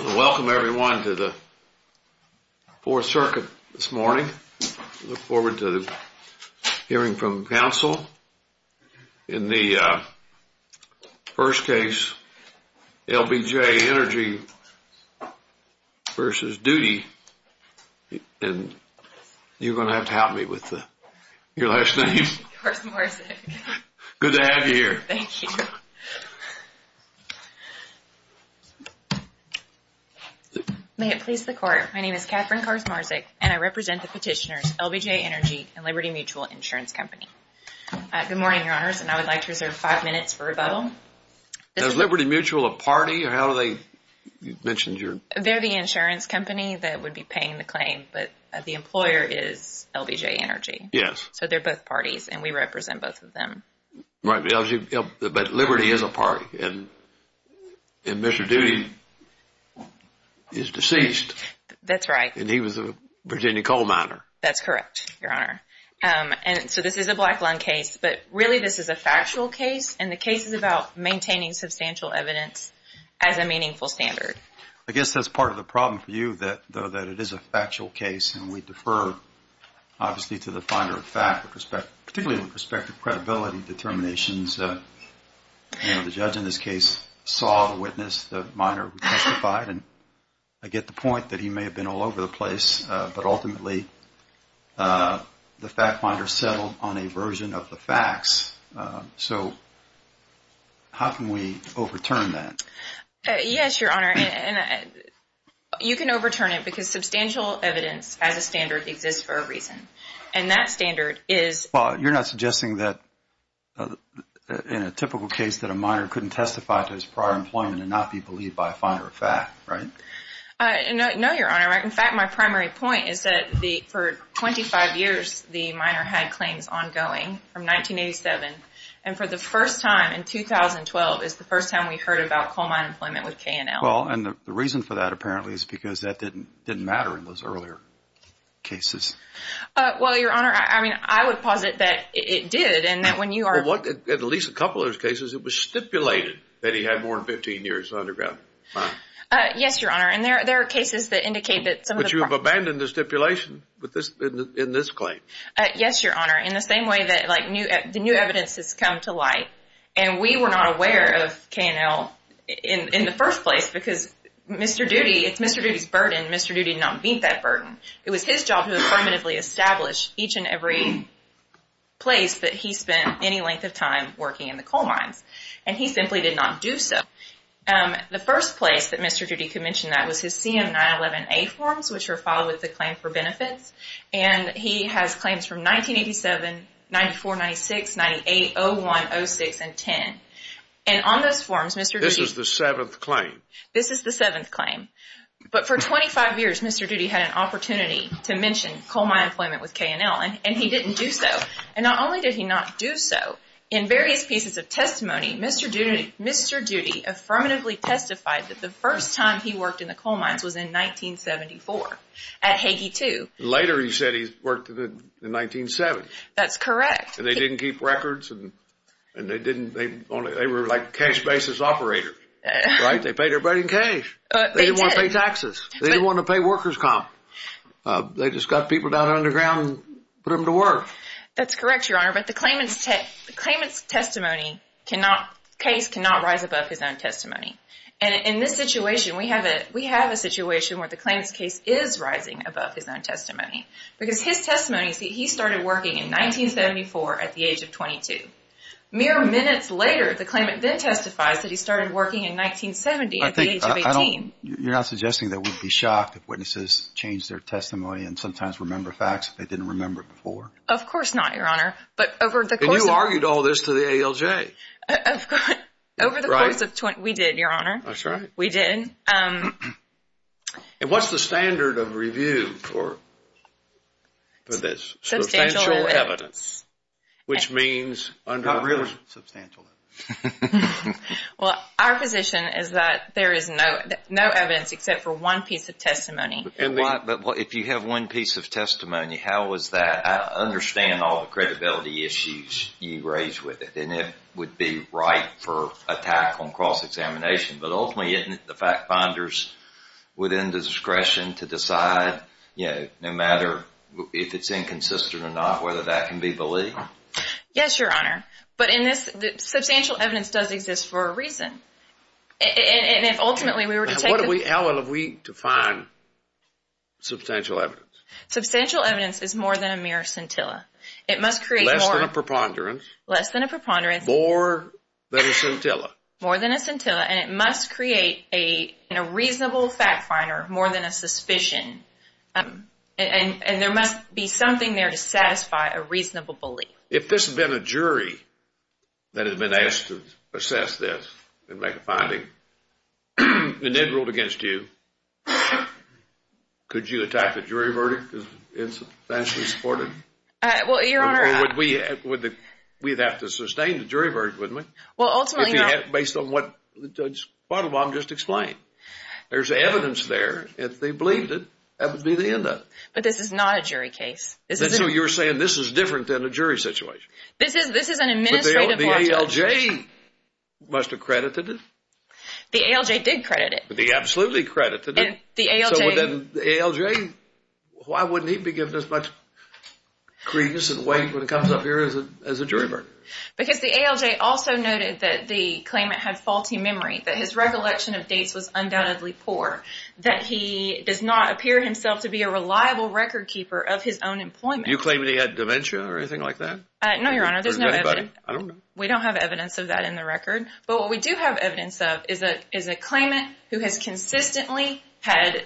Welcome, everyone, to the Fourth Circuit this morning. I look forward to hearing from counsel in the first case, LBJ Energy v. Duty. And you're going to have to help me with your last name. Of course, Morris. Good to have you here. Thank you. May it please the Court. My name is Katherine Karsmarzik, and I represent the petitioners, LBJ Energy and Liberty Mutual Insurance Company. Good morning, Your Honors, and I would like to reserve five minutes for rebuttal. Is Liberty Mutual a party, or how do they – you mentioned your – They're the insurance company that would be paying the claim, but the employer is LBJ Energy. Yes. So they're both parties, and we represent both of them. Right. But Liberty is a party, and Mr. Duty is deceased. That's right. And he was a Virginia coal miner. That's correct, Your Honor. And so this is a black-lung case, but really this is a factual case, and the case is about maintaining substantial evidence as a meaningful standard. I guess that's part of the problem for you, though, that it is a factual case, and we defer, obviously, to the finder of fact, particularly with respect to credibility determinations. You know, the judge in this case saw the witness, the miner, who testified, and I get the point that he may have been all over the place, but ultimately the fact finder settled on a version of the facts. So how can we overturn that? Yes, Your Honor. You can overturn it because substantial evidence as a standard exists for a reason, and that standard is... Well, you're not suggesting that in a typical case that a miner couldn't testify to his prior employment and not be believed by a finder of fact, right? No, Your Honor. In fact, my primary point is that for 25 years the miner had claims ongoing from 1987, and for the first time in 2012 is the first time we heard about coal mine employment with K&L. Well, and the reason for that apparently is because that didn't matter in those earlier cases. Well, Your Honor, I mean, I would posit that it did, and that when you are... Well, in at least a couple of those cases it was stipulated that he had more than 15 years underground. Yes, Your Honor, and there are cases that indicate that some of the... But you have abandoned the stipulation in this claim. Yes, Your Honor, in the same way that the new evidence has come to light, and we were not aware of K&L in the first place because Mr. Doody... It's Mr. Doody's burden. Mr. Doody did not meet that burden. It was his job to affirmatively establish each and every place that he spent any length of time working in the coal mines, and he simply did not do so. The first place that Mr. Doody could mention that was his CM911A forms, which are filed with the Claim for Benefits, and he has claims from 1987, 94, 96, 98, 01, 06, and 10. And on those forms, Mr. Doody... This is the seventh claim. This is the seventh claim, but for 25 years Mr. Doody had an opportunity to mention coal mine employment with K&L, and he didn't do so, and not only did he not do so, in various pieces of testimony, Mr. Doody affirmatively testified that the first time he worked in the coal mines was in 1974 at Hagey 2. Later he said he worked in the 1970s. That's correct. And they didn't keep records, and they didn't... They were like cash basis operators, right? They paid everybody in cash. They didn't want to pay taxes. They didn't want to pay workers' comp. They just got people down underground and put them to work. That's correct, Your Honor, but the claimant's testimony cannot, case cannot rise above his own testimony. And in this situation, we have a situation where the claimant's case is rising above his own testimony because his testimony is that he started working in 1974 at the age of 22. Mere minutes later the claimant then testifies that he started working in 1970 at the age of 18. You're not suggesting that we'd be shocked if witnesses change their testimony and sometimes remember facts that they didn't remember before? Of course not, Your Honor, but over the course of... And you argued all this to the ALJ. Over the course of... we did, Your Honor. That's right. We did. And what's the standard of review for this? Substantial evidence. Which means under... Not really substantial evidence. Well, our position is that there is no evidence except for one piece of testimony. But if you have one piece of testimony, how is that? I understand all the credibility issues you raised with it, and it would be right for attack on cross-examination, but ultimately isn't it the fact finders within the discretion to decide, you know, no matter if it's inconsistent or not whether that can be believed? Yes, Your Honor, but in this... Substantial evidence does exist for a reason. And if ultimately we were to take... How well have we defined substantial evidence? Substantial evidence is more than a mere scintilla. It must create more... Less than a preponderance. Less than a preponderance. More than a scintilla. More than a scintilla. And it must create a reasonable fact finder, more than a suspicion. And there must be something there to satisfy a reasonable belief. If this had been a jury that had been asked to assess this and make a finding, and they ruled against you, could you attack the jury verdict because it's substantially supported? Well, Your Honor... Or would we have to sustain the jury verdict, wouldn't we? Well, ultimately, Your Honor... Based on what Judge Quattlebaum just explained. There's evidence there. If they believed it, that would be the end of it. But this is not a jury case. So you're saying this is different than a jury situation? This is an administrative... But the ALJ must have credited it? The ALJ did credit it. They absolutely credited it. The ALJ... The ALJ... Why wouldn't he be given as much credence and weight when it comes up here as a jury verdict? Because the ALJ also noted that the claimant had faulty memory, that his recollection of dates was undoubtedly poor, that he does not appear himself to be a reliable record keeper of his own employment. Do you claim that he had dementia or anything like that? No, Your Honor. There's no evidence. We don't have evidence of that in the record. But what we do have evidence of is a claimant who has consistently had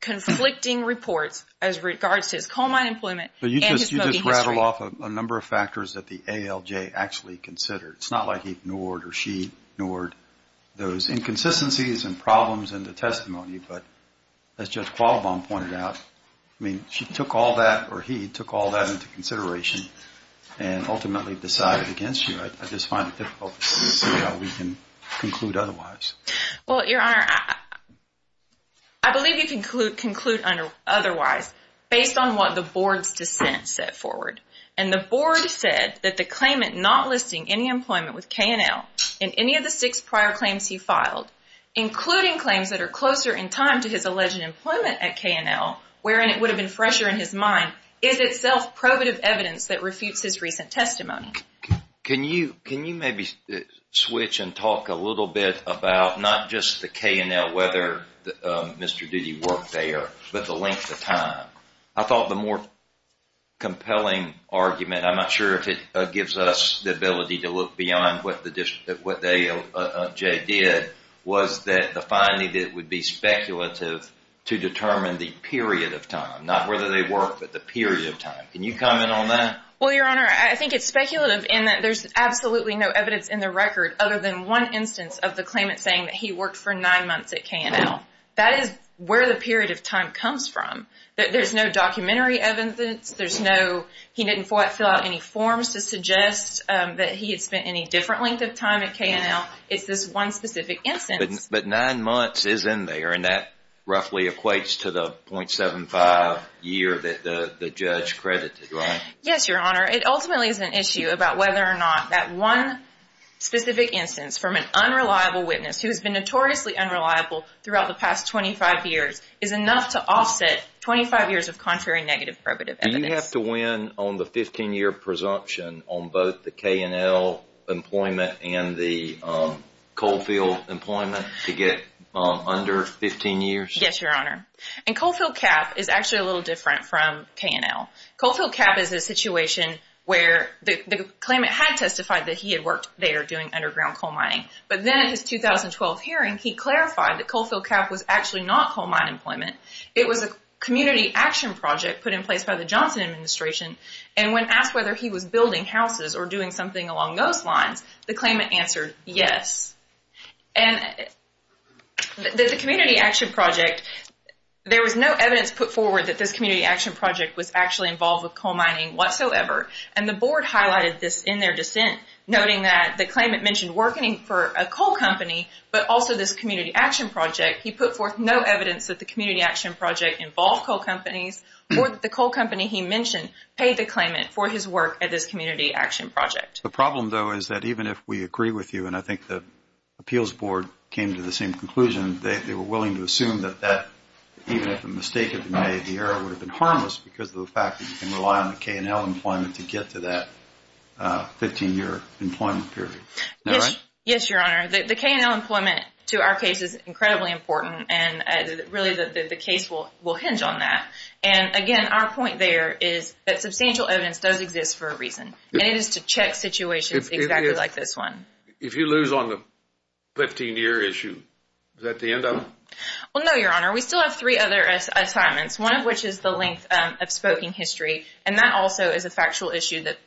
conflicting reports as regards to his coal mine employment and his smoking history. But you just rattled off a number of factors that the ALJ actually considered. It's not like he ignored or she ignored those inconsistencies and problems in the testimony. But as Judge Quattlebaum pointed out, she took all that or he took all that into consideration and ultimately decided against you. I just find it difficult to see how we can conclude otherwise. Well, Your Honor, I believe you can conclude otherwise based on what the Board's dissent set forward. And the Board said that the claimant not listing any employment with K&L in any of the six prior claims he filed, including claims that are closer in time to his alleged employment at K&L, wherein it would have been fresher in his mind, is itself probative evidence that refutes his recent testimony. Can you maybe switch and talk a little bit about not just the K&L, whether Mr. Doody worked there, but the length of time? I thought the more compelling argument, I'm not sure if it gives us the ability to look beyond what the ALJ did, was that the finding that it would be speculative to determine the period of time, not whether they worked, but the period of time. Can you comment on that? Well, Your Honor, I think it's speculative in that there's absolutely no evidence in the record other than one instance of the claimant saying that he worked for nine months at K&L. That is where the period of time comes from. There's no documentary evidence. He didn't fill out any forms to suggest that he had spent any different length of time at K&L. It's this one specific instance. But nine months is in there, and that roughly equates to the .75 year that the judge credited, right? Yes, Your Honor. It ultimately is an issue about whether or not that one specific instance from an unreliable witness who has been notoriously unreliable throughout the past 25 years is enough to offset 25 years of contrary negative probative evidence. Do you have to win on the 15-year presumption on both the K&L employment and the Coalfield employment to get under 15 years? Yes, Your Honor. And Coalfield cap is actually a little different from K&L. Coalfield cap is a situation where the claimant had testified that he had worked there doing underground coal mining. But then in his 2012 hearing, he clarified that Coalfield cap was actually not coal mine employment. It was a community action project put in place by the Johnson administration, and when asked whether he was building houses or doing something along those lines, the claimant answered yes. The community action project, there was no evidence put forward that this community action project was actually involved with coal mining whatsoever. And the board highlighted this in their dissent, noting that the claimant mentioned working for a coal company but also this community action project. He put forth no evidence that the community action project involved coal companies or that the coal company he mentioned paid the claimant for his work at this community action project. The problem, though, is that even if we agree with you, and I think the appeals board came to the same conclusion, they were willing to assume that even if a mistake had been made, the error would have been harmless because of the fact that you can rely on the K&L employment to get to that 15-year employment period. Is that right? Yes, Your Honor. The K&L employment to our case is incredibly important, and really the case will hinge on that. And again, our point there is that substantial evidence does exist for a reason, and it is to check situations exactly like this one. If you lose on the 15-year issue, is that the end of it? No, Your Honor. We still have three other assignments, one of which is the length of spoken history, and that also is a factual issue that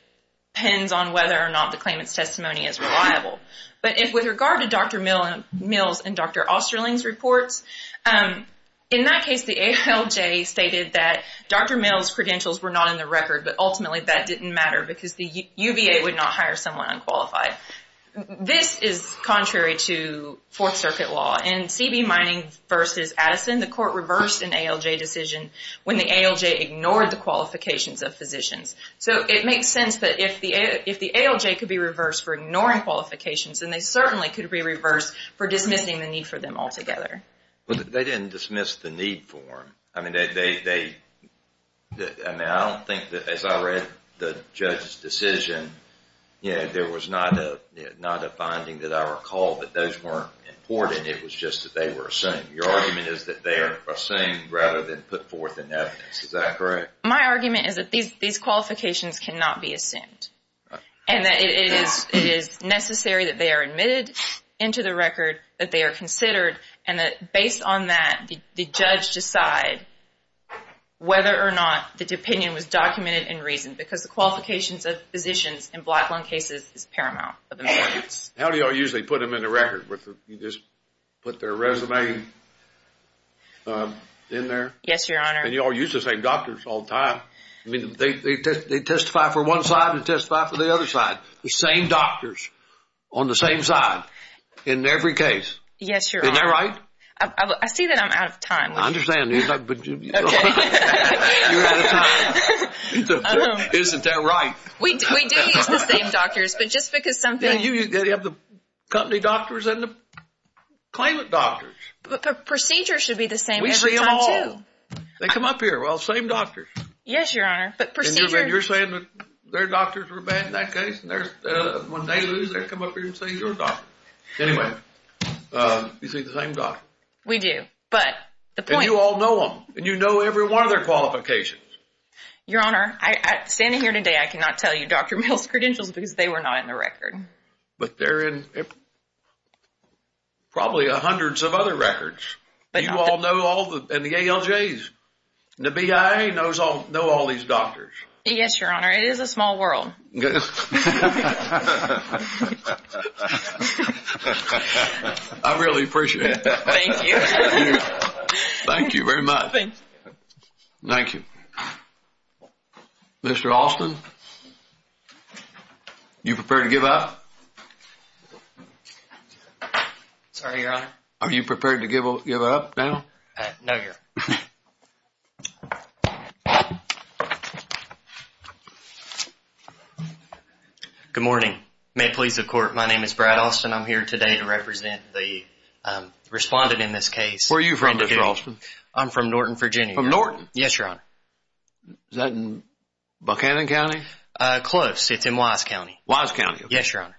depends on whether or not the claimant's testimony is reliable. But with regard to Dr. Mills and Dr. Osterling's reports, in that case the ALJ stated that Dr. Mills' credentials were not in the record, but ultimately that didn't matter because the UVA would not hire someone unqualified. But this is contrary to Fourth Circuit law. In CB Mining v. Addison, the court reversed an ALJ decision when the ALJ ignored the qualifications of physicians. So it makes sense that if the ALJ could be reversed for ignoring qualifications, then they certainly could be reversed for dismissing the need for them altogether. But they didn't dismiss the need for them. I mean, I don't think that as I read the judge's decision, there was not a finding that I recall that those weren't important. It was just that they were assumed. Your argument is that they are assumed rather than put forth in evidence. Is that correct? My argument is that these qualifications cannot be assumed. And that it is necessary that they are admitted into the record, that they are considered, and that based on that, the judge decide whether or not the opinion was documented in reason because the qualifications of physicians in black lung cases is paramount. How do you all usually put them in the record? You just put their resume in there? Yes, Your Honor. And you all use the same doctors all the time. I mean, they testify for one side and testify for the other side. The same doctors on the same side in every case. Yes, Your Honor. Isn't that right? I see that I'm out of time. I understand. Okay. You're out of time. Isn't that right? We do use the same doctors, but just because some things. Yeah, you have the company doctors and the claimant doctors. But procedures should be the same every time too. We see them all. They come up here. Well, same doctors. Yes, Your Honor. And you're saying that their doctors were bad in that case, and when they lose, they come up here and say you're a doctor. Anyway, you see the same doctor. We do, but the point is. And you all know them, and you know every one of their qualifications. Your Honor, standing here today, I cannot tell you Dr. Mills' credentials because they were not in the record. But they're in probably hundreds of other records. You all know all the ALJs. The BIA knows all these doctors. Yes, Your Honor. It is a small world. I really appreciate it. Thank you. Thank you very much. Thank you. Mr. Austin, you prepared to give up? Sorry, Your Honor. Are you prepared to give up now? No, Your Honor. Good morning. May it please the Court, my name is Brad Austin. I'm here today to represent the respondent in this case. Where are you from, Mr. Austin? I'm from Norton, Virginia. From Norton? Yes, Your Honor. Is that in Buchanan County? Close. It's in Wise County. Wise County, okay. Yes, Your Honor.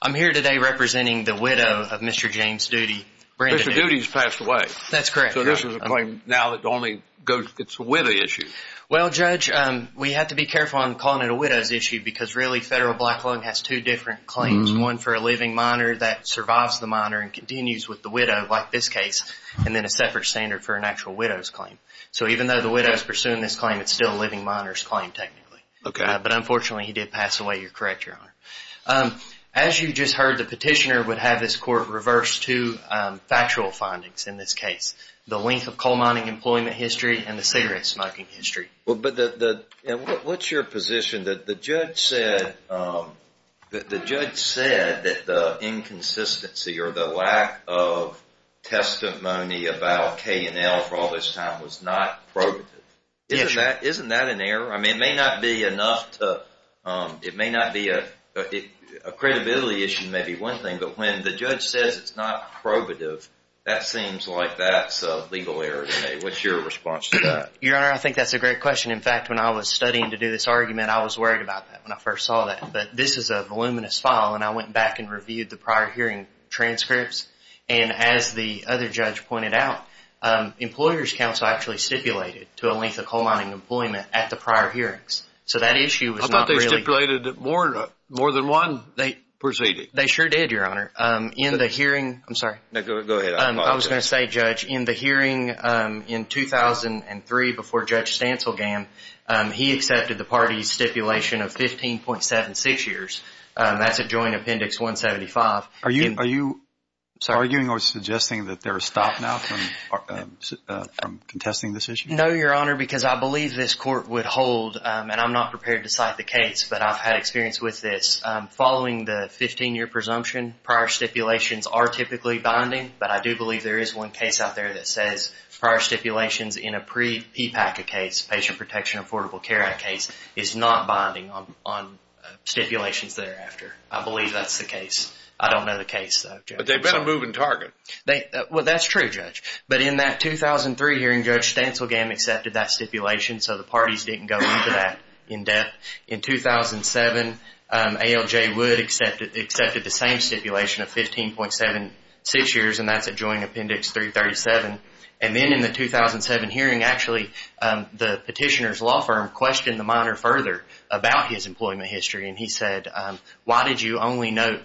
I'm here today representing the widow of Mr. James Doody, Brandon Mills. Mr. Doody has passed away. That's correct, Your Honor. So this is a claim now that it's a widow issue. Well, Judge, we have to be careful in calling it a widow's issue because, really, Federal Black Lung has two different claims. One for a living minor that survives the minor and continues with the widow, like this case, and then a separate standard for an actual widow's claim. So even though the widow is pursuing this claim, it's still a living minor's claim, technically. Okay. But, unfortunately, he did pass away. You're correct, Your Honor. As you just heard, the petitioner would have his court reverse two factual findings in this case. The length of coal mining employment history and the cigarette smoking history. What's your position that the judge said that the inconsistency or the lack of testimony about K&L for all this time was not probative? Yes, Your Honor. Isn't that an error? I mean, it may not be enough to—it may not be a—a credibility issue may be one thing, but when the judge says it's not probative, that seems like that's a legal error to me. What's your response to that? Your Honor, I think that's a great question. In fact, when I was studying to do this argument, I was worried about that when I first saw that. But this is a voluminous file, and I went back and reviewed the prior hearing transcripts, and as the other judge pointed out, employers' counsel actually stipulated to a length of coal mining employment at the prior hearings. So that issue was not really— I thought they stipulated more than one proceeding. They sure did, Your Honor. In the hearing—I'm sorry. No, go ahead. I apologize. I was going to say, Judge, in the hearing in 2003 before Judge Stanselgam, he accepted the party's stipulation of 15.76 years. That's a joint appendix 175. Are you arguing or suggesting that there is stop now from contesting this issue? No, Your Honor, because I believe this court would hold—and I'm not prepared to cite the case, but I've had experience with this. Following the 15-year presumption, prior stipulations are typically binding, but I do believe there is one case out there that says prior stipulations in a pre-PPACA case, Patient Protection Affordable Care Act case, is not binding on stipulations thereafter. I believe that's the case. I don't know the case, though. But they've been a moving target. Well, that's true, Judge. But in that 2003 hearing, Judge Stanselgam accepted that stipulation, so the parties didn't go into that in depth. In 2007, ALJ Wood accepted the same stipulation of 15.76 years, and that's a joint appendix 337. And then in the 2007 hearing, actually, the petitioner's law firm questioned the minor further about his employment history, and he said, why did you only note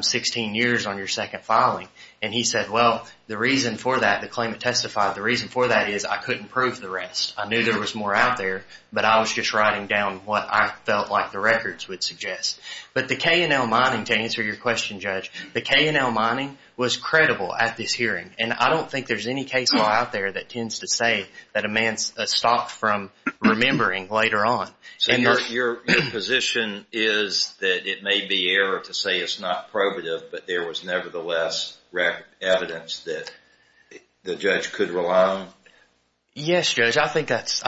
16 years on your second filing? And he said, well, the reason for that, the claimant testified, the reason for that is I couldn't prove the rest. I knew there was more out there, but I was just writing down what I felt like the records would suggest. But the K&L mining, to answer your question, Judge, the K&L mining was credible at this hearing, and I don't think there's any case law out there that tends to say that a man stopped from remembering later on. So your position is that it may be error to say it's not probative, but there was nevertheless evidence that the judge could rely on? Yes, Judge, I think that's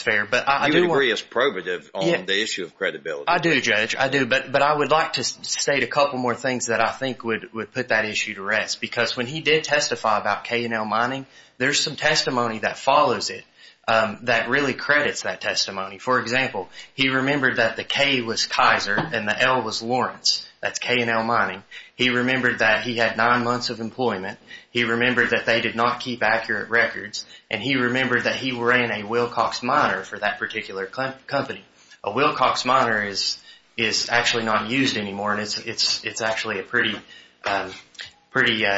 fair. You would agree it's probative on the issue of credibility. I do, Judge, I do. But I would like to state a couple more things that I think would put that issue to rest, because when he did testify about K&L mining, there's some testimony that follows it that really credits that testimony. For example, he remembered that the K was Kaiser and the L was Lawrence. That's K&L mining. He remembered that he had nine months of employment. He remembered that they did not keep accurate records, and he remembered that he ran a Wilcox miner for that particular company. A Wilcox miner is actually not used anymore, and it's actually a pretty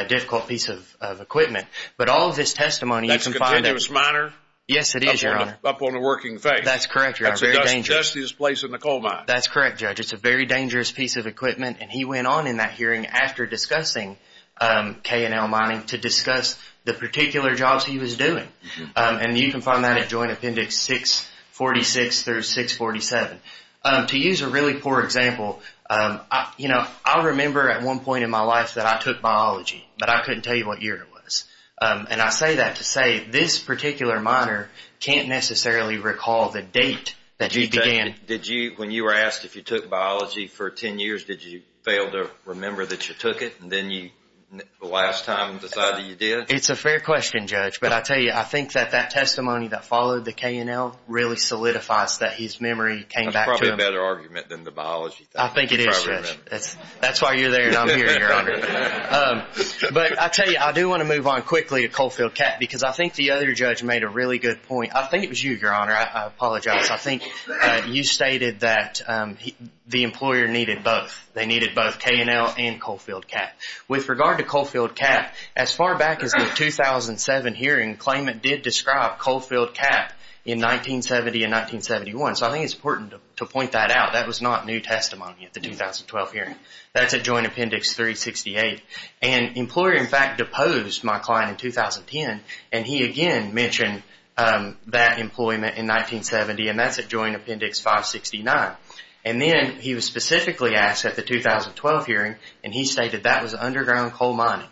difficult piece of equipment. But all of this testimony you can find out. That's a continuous miner? Yes, it is, Your Honor. Up on the working face. That's correct, Your Honor. That's the dustiest place in the coal mine. That's correct, Judge. It's a very dangerous piece of equipment, and he went on in that hearing after discussing K&L mining to discuss the particular jobs he was doing. And you can find that at Joint Appendix 646 through 647. To use a really poor example, I remember at one point in my life that I took biology, but I couldn't tell you what year it was. And I say that to say this particular miner can't necessarily recall the date that he began. When you were asked if you took biology for 10 years, did you fail to remember that you took it, and then the last time decided you did? It's a fair question, Judge. But I tell you, I think that that testimony that followed the K&L really solidifies that his memory came back to him. That's probably a better argument than the biology thing. I think it is, Judge. That's why you're there and I'm here, Your Honor. But I tell you, I do want to move on quickly to Coalfield Cat because I think the other judge made a really good point. I think it was you, Your Honor. I apologize. I think you stated that the employer needed both. They needed both K&L and Coalfield Cat. With regard to Coalfield Cat, as far back as the 2007 hearing, the claimant did describe Coalfield Cat in 1970 and 1971. So I think it's important to point that out. That was not new testimony at the 2012 hearing. That's at Joint Appendix 368. And the employer, in fact, deposed my client in 2010, and he again mentioned that employment in 1970, and that's at Joint Appendix 569. And then he was specifically asked at the 2012 hearing, and he stated that was underground coal mining.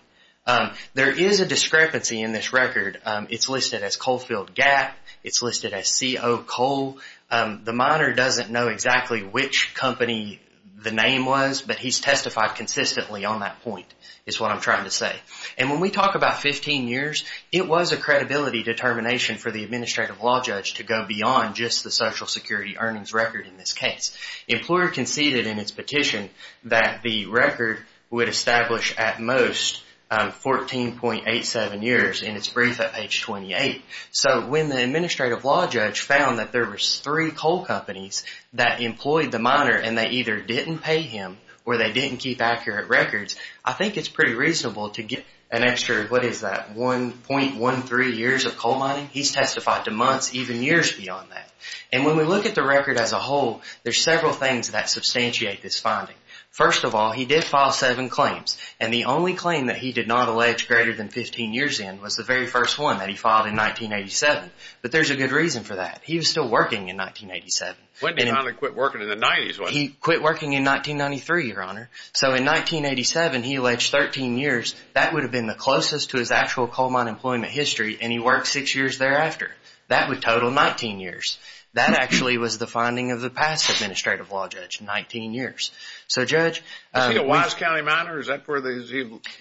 There is a discrepancy in this record. It's listed as Coalfield Gap. It's listed as CO Coal. The miner doesn't know exactly which company the name was, but he's testified consistently on that point, is what I'm trying to say. And when we talk about 15 years, it was a credibility determination for the administrative law judge to go beyond just the Social Security earnings record in this case. The employer conceded in its petition that the record would establish at most 14.87 years, and it's briefed at page 28. So when the administrative law judge found that there were three coal companies that employed the miner, and they either didn't pay him or they didn't keep accurate records, I think it's pretty reasonable to get an extra, what is that, 1.13 years of coal mining. He's testified to months, even years beyond that. And when we look at the record as a whole, there's several things that substantiate this finding. First of all, he did file seven claims, and the only claim that he did not allege greater than 15 years in was the very first one that he filed in 1987. But there's a good reason for that. He was still working in 1987. When did he finally quit working in the 90s? He quit working in 1993, Your Honor. So in 1987, he alleged 13 years. That would have been the closest to his actual coal mine employment history, and he worked six years thereafter. That would total 19 years. That actually was the finding of the past administrative law judge, 19 years. Is he a Wise County miner? Is that where he's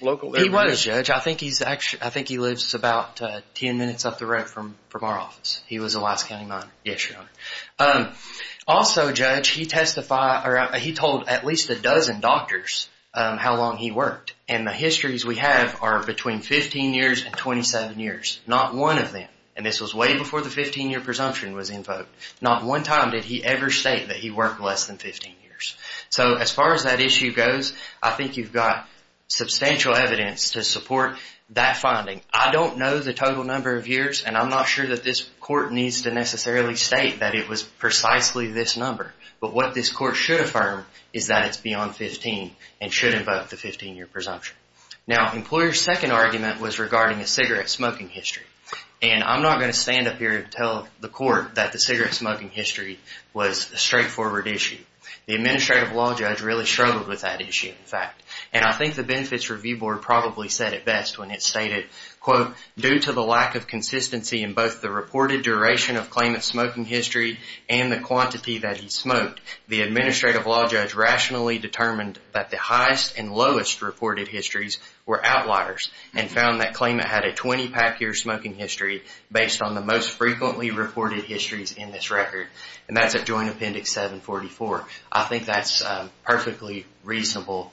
local? He was, Judge. I think he lives about 10 minutes up the road from our office. He was a Wise County miner. Yes, Your Honor. Also, Judge, he told at least a dozen doctors how long he worked, and the histories we have are between 15 years and 27 years. Not one of them, and this was way before the 15-year presumption was invoked. Not one time did he ever state that he worked less than 15 years. So as far as that issue goes, I think you've got substantial evidence to support that finding. I don't know the total number of years, and I'm not sure that this court needs to necessarily state that it was precisely this number, but what this court should affirm is that it's beyond 15 and should invoke the 15-year presumption. Now, employer's second argument was regarding a cigarette smoking history, and I'm not going to stand up here and tell the court that the cigarette smoking history was a straightforward issue. The administrative law judge really struggled with that issue, in fact, and I think the Benefits Review Board probably said it best when it stated, quote, due to the lack of consistency in both the reported duration of claimant's smoking history and the quantity that he smoked, the administrative law judge rationally determined that the highest and lowest reported histories were outliers and found that claimant had a 20-pack year smoking history based on the most frequently reported histories in this record, and that's at Joint Appendix 744. I think that's a perfectly reasonable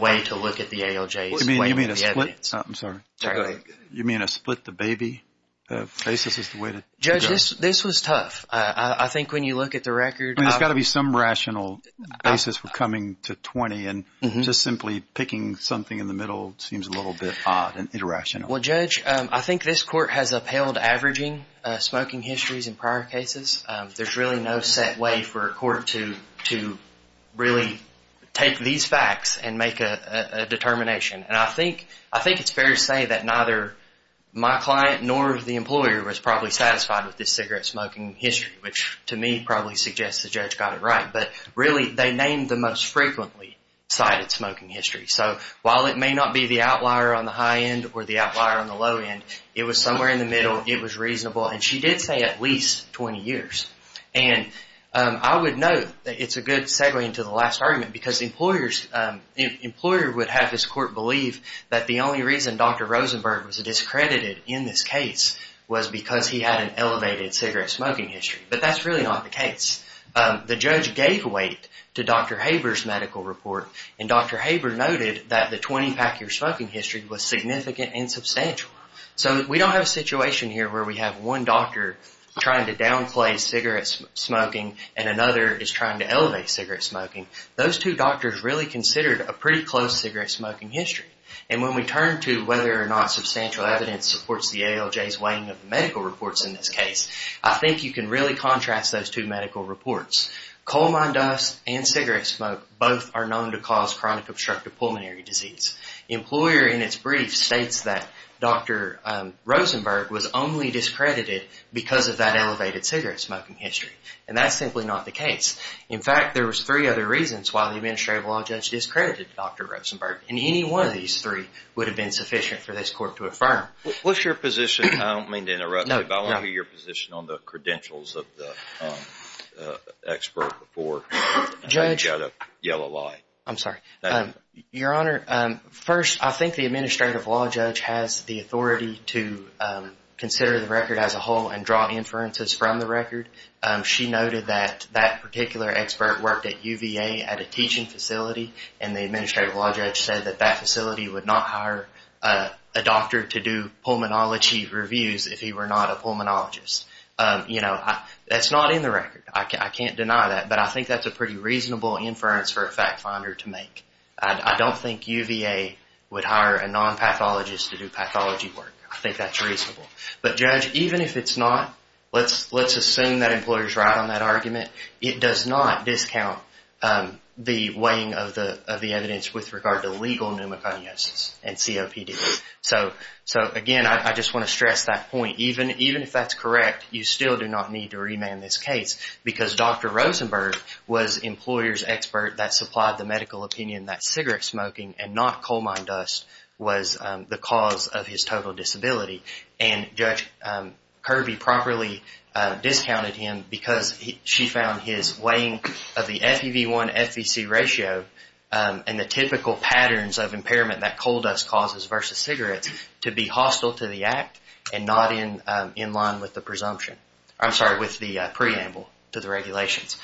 way to look at the ALJ's weight on the evidence. I'm sorry. You mean to split the baby? Basis is the way to judge. Judge, this was tough. I think when you look at the record— I mean, there's got to be some rational basis for coming to 20, and just simply picking something in the middle seems a little bit odd and irrational. Well, Judge, I think this court has upheld averaging smoking histories in prior cases. There's really no set way for a court to really take these facts and make a determination, and I think it's fair to say that neither my client nor the employer was probably satisfied with this cigarette smoking history, which to me probably suggests the judge got it right, but really they named the most frequently cited smoking history. So while it may not be the outlier on the high end or the outlier on the low end, it was somewhere in the middle. It was reasonable, and she did say at least 20 years, and I would note that it's a good segue into the last argument because the employer would have this court believe that the only reason Dr. Rosenberg was discredited in this case was because he had an elevated cigarette smoking history, but that's really not the case. The judge gave weight to Dr. Haber's medical report, and Dr. Haber noted that the 20-pack year smoking history was significant and substantial. So we don't have a situation here where we have one doctor trying to downplay cigarette smoking and another is trying to elevate cigarette smoking. Those two doctors really considered a pretty close cigarette smoking history, and when we turn to whether or not substantial evidence supports the ALJ's weighing of the medical reports in this case, I think you can really contrast those two medical reports. Coal mine dust and cigarette smoke both are known to cause chronic obstructive pulmonary disease. The employer in its brief states that Dr. Rosenberg was only discredited because of that elevated cigarette smoking history, and that's simply not the case. In fact, there was three other reasons why the Administrative Law Judge discredited Dr. Rosenberg, and any one of these three would have been sufficient for this court to affirm. What's your position? I don't mean to interrupt you, but I want to hear your position on the credentials of the expert before you yell a lie. I'm sorry. Your Honor, first, I think the Administrative Law Judge has the authority to consider the record as a whole and draw inferences from the record. She noted that that particular expert worked at UVA at a teaching facility, and the Administrative Law Judge said that that facility would not hire a doctor to do pulmonology reviews if he were not a pulmonologist. That's not in the record. I can't deny that, but I think that's a pretty reasonable inference for a fact finder to make. I don't think UVA would hire a non-pathologist to do pathology work. I think that's reasonable. But, Judge, even if it's not, let's assume that the employer is right on that argument. It does not discount the weighing of the evidence with regard to legal pneumoconiosis and COPD. Again, I just want to stress that point. Even if that's correct, you still do not need to remand this case because Dr. Rosenberg was the employer's expert that supplied the medical opinion that cigarette smoking and not coal mine dust was the cause of his total disability. And Judge Kirby properly discounted him because she found his weighing of the FEV1-FEC ratio and the typical patterns of impairment that coal dust causes versus cigarettes to be hostile to the act and not in line with the presumption. I'm sorry, with the preamble to the regulations.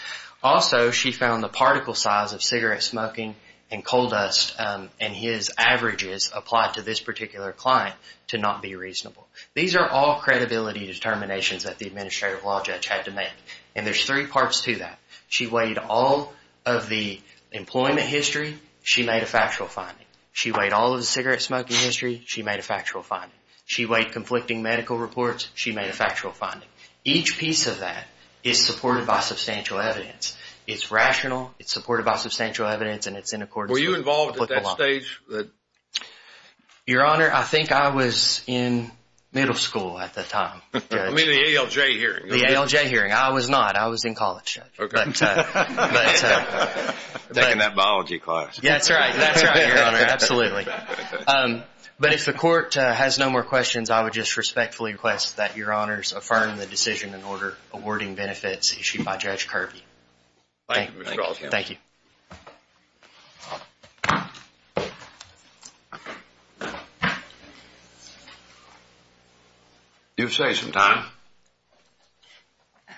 Also, she found the particle size of cigarette smoking and coal dust and his averages applied to this particular client to not be reasonable. These are all credibility determinations that the administrative law judge had to make. And there's three parts to that. She weighed all of the employment history. She made a factual finding. She weighed all of the cigarette smoking history. She made a factual finding. She weighed conflicting medical reports. She made a factual finding. Each piece of that is supported by substantial evidence. It's rational. It's supported by substantial evidence. And it's in accordance with applicable law. Were you involved at that stage? Your Honor, I think I was in middle school at that time. I mean the ALJ hearing. The ALJ hearing. I was not. I was in college. Okay. But. Taking that biology class. That's right. That's right, Your Honor. Absolutely. But if the court has no more questions, I would just respectfully request that Your Honors affirm the decision in order awarding benefits issued by Judge Kirby. Thank you, Mr. Groskamp. Thank you. Do you have some time?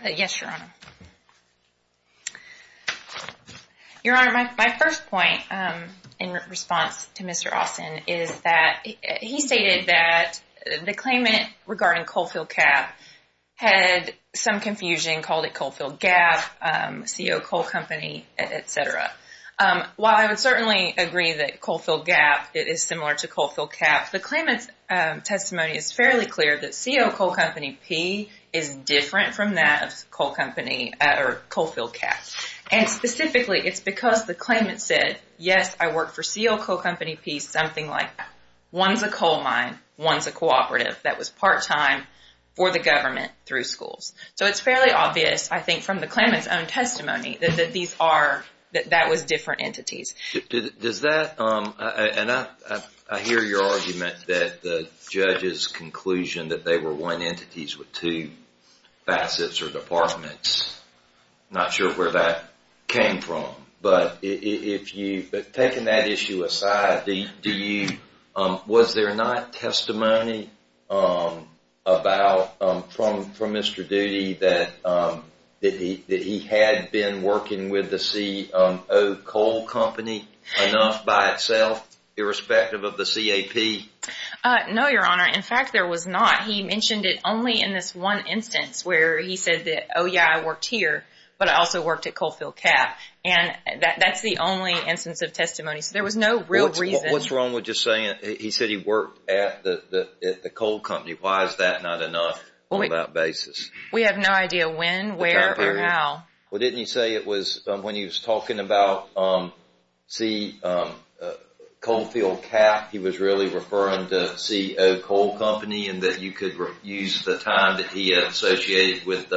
Yes, Your Honor. Your Honor, my first point in response to Mr. Austin is that he stated that the claimant regarding Coalfield Cap had some confusion, called it Coalfield Gap, CO Coal Company, etc. While I would certainly agree that Coalfield Gap is similar to Coalfield Cap, the claimant's testimony is fairly clear that CO Coal Company P is different from that of Coalfield Cap. And specifically, it's because the claimant said, yes, I work for CO Coal Company P, something like that. One's a coal mine, one's a cooperative that was part-time for the government through schools. So it's fairly obvious, I think, from the claimant's own testimony that that was different entities. Does that, and I hear your argument that the judge's conclusion that they were one entities with two facets or departments, I'm not sure where that came from. But if you, but taking that issue aside, do you, was there not testimony about, from Mr. Doody, that he had been working with the CO Coal Company enough by itself, irrespective of the CAP? No, Your Honor. In fact, there was not. He mentioned it only in this one instance where he said that, oh yeah, I worked here, but I also worked at Coalfield Cap. And that's the only instance of testimony. There was no real reason. What's wrong with just saying, he said he worked at the coal company, why is that not enough on that basis? We have no idea when, where, or how. Well, didn't he say it was, when he was talking about C, Coalfield Cap, he was really referring to CO Coal Company and that you could use the time that he had associated with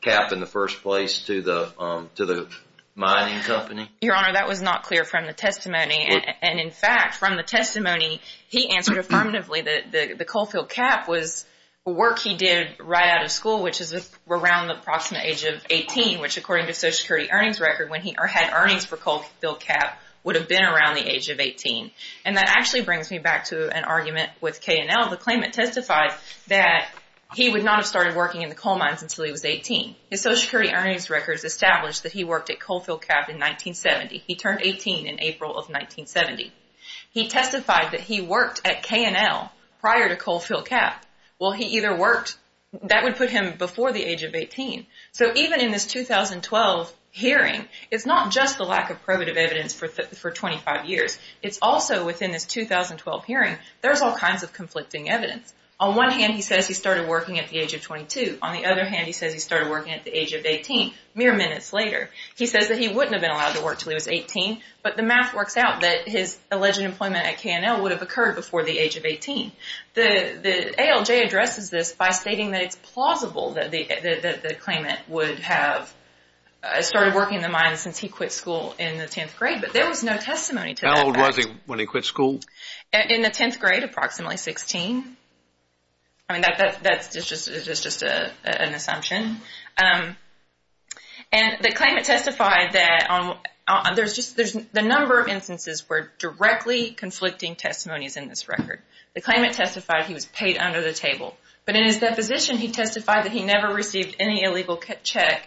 CAP in the first place to the mining company? Your Honor, that was not clear from the testimony. And in fact, from the testimony, he answered affirmatively that the Coalfield Cap was work he did right out of school, which is around the approximate age of 18, which according to Social Security earnings record, when he had earnings for Coalfield Cap, would have been around the age of 18. And that actually brings me back to an argument with KNL, the claimant testified that he would not have started working in the coal mines until he was 18. His Social Security earnings records established that he worked at Coalfield Cap in 1970. He turned 18 in April of 1970. He testified that he worked at KNL prior to Coalfield Cap. Well, he either worked, that would put him before the age of 18. So even in this 2012 hearing, it's not just the lack of probative evidence for 25 years. It's also within this 2012 hearing, there's all kinds of conflicting evidence. On one hand, he says he started working at the age of 22. On the other hand, he says he started working at the age of 18, mere minutes later. He says that he wouldn't have been allowed to work until he was 18. But the math works out that his alleged employment at KNL would have occurred before the age of 18. The ALJ addresses this by stating that it's plausible that the claimant would have started working in the mines since he quit school in the 10th grade, but there was no testimony to that. How old was he when he quit school? In the 10th grade, approximately 16. I mean, that's just an assumption. And the claimant testified that the number of instances were directly conflicting testimonies in this record. The claimant testified he was paid under the table, but in his deposition, he testified that he never received any illegal cash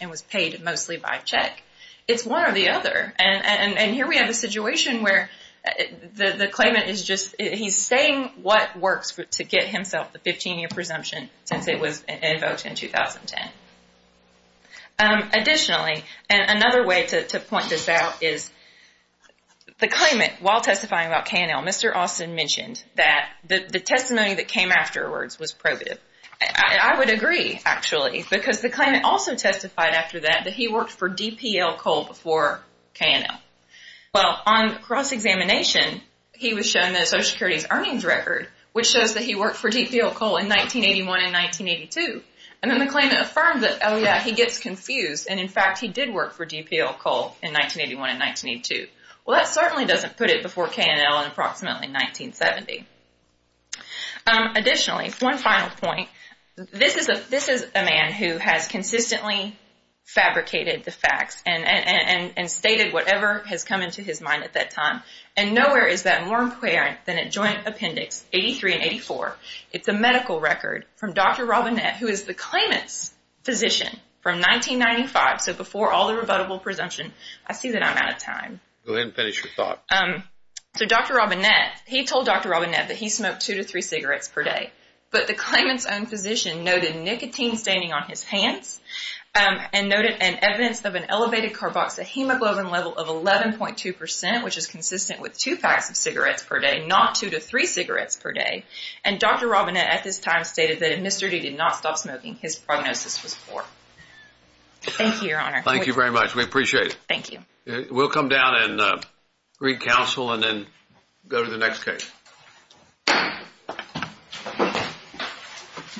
and was paid mostly by check. It's one or the other. And here we have a situation where the claimant is just, he's saying what works to get himself the 15-year presumption since it was invoked in 2010. Additionally, and another way to point this out is the claimant, while testifying about KNL, Mr. Austin mentioned that the testimony that came afterwards was probative. I would agree, actually, because the claimant also testified after that that he worked for KNL. Well, on cross-examination, he was shown the Social Security's earnings record, which shows that he worked for DPL Coal in 1981 and 1982. And then the claimant affirmed that, oh yeah, he gets confused, and in fact, he did work for DPL Coal in 1981 and 1982. Well, that certainly doesn't put it before KNL in approximately 1970. Additionally, one final point. This is a man who has consistently fabricated the facts and stated whatever has come into his mind at that time. And nowhere is that more important than at Joint Appendix 83 and 84. It's a medical record from Dr. Robinette, who is the claimant's physician from 1995. So before all the rebuttable presumption, I see that I'm out of time. Go ahead and finish your thought. So Dr. Robinette, he told Dr. Robinette that he smoked two to three cigarettes per day. But the claimant's own physician noted nicotine staining on his hands and noted an evidence of an elevated carboxyhemoglobin level of 11.2 percent, which is consistent with two packs of cigarettes per day, not two to three cigarettes per day. And Dr. Robinette at this time stated that if Mr. D did not stop smoking, his prognosis was poor. Thank you, Your Honor. Thank you very much. We appreciate it. Thank you. We'll come down and re-counsel and then go to the next case.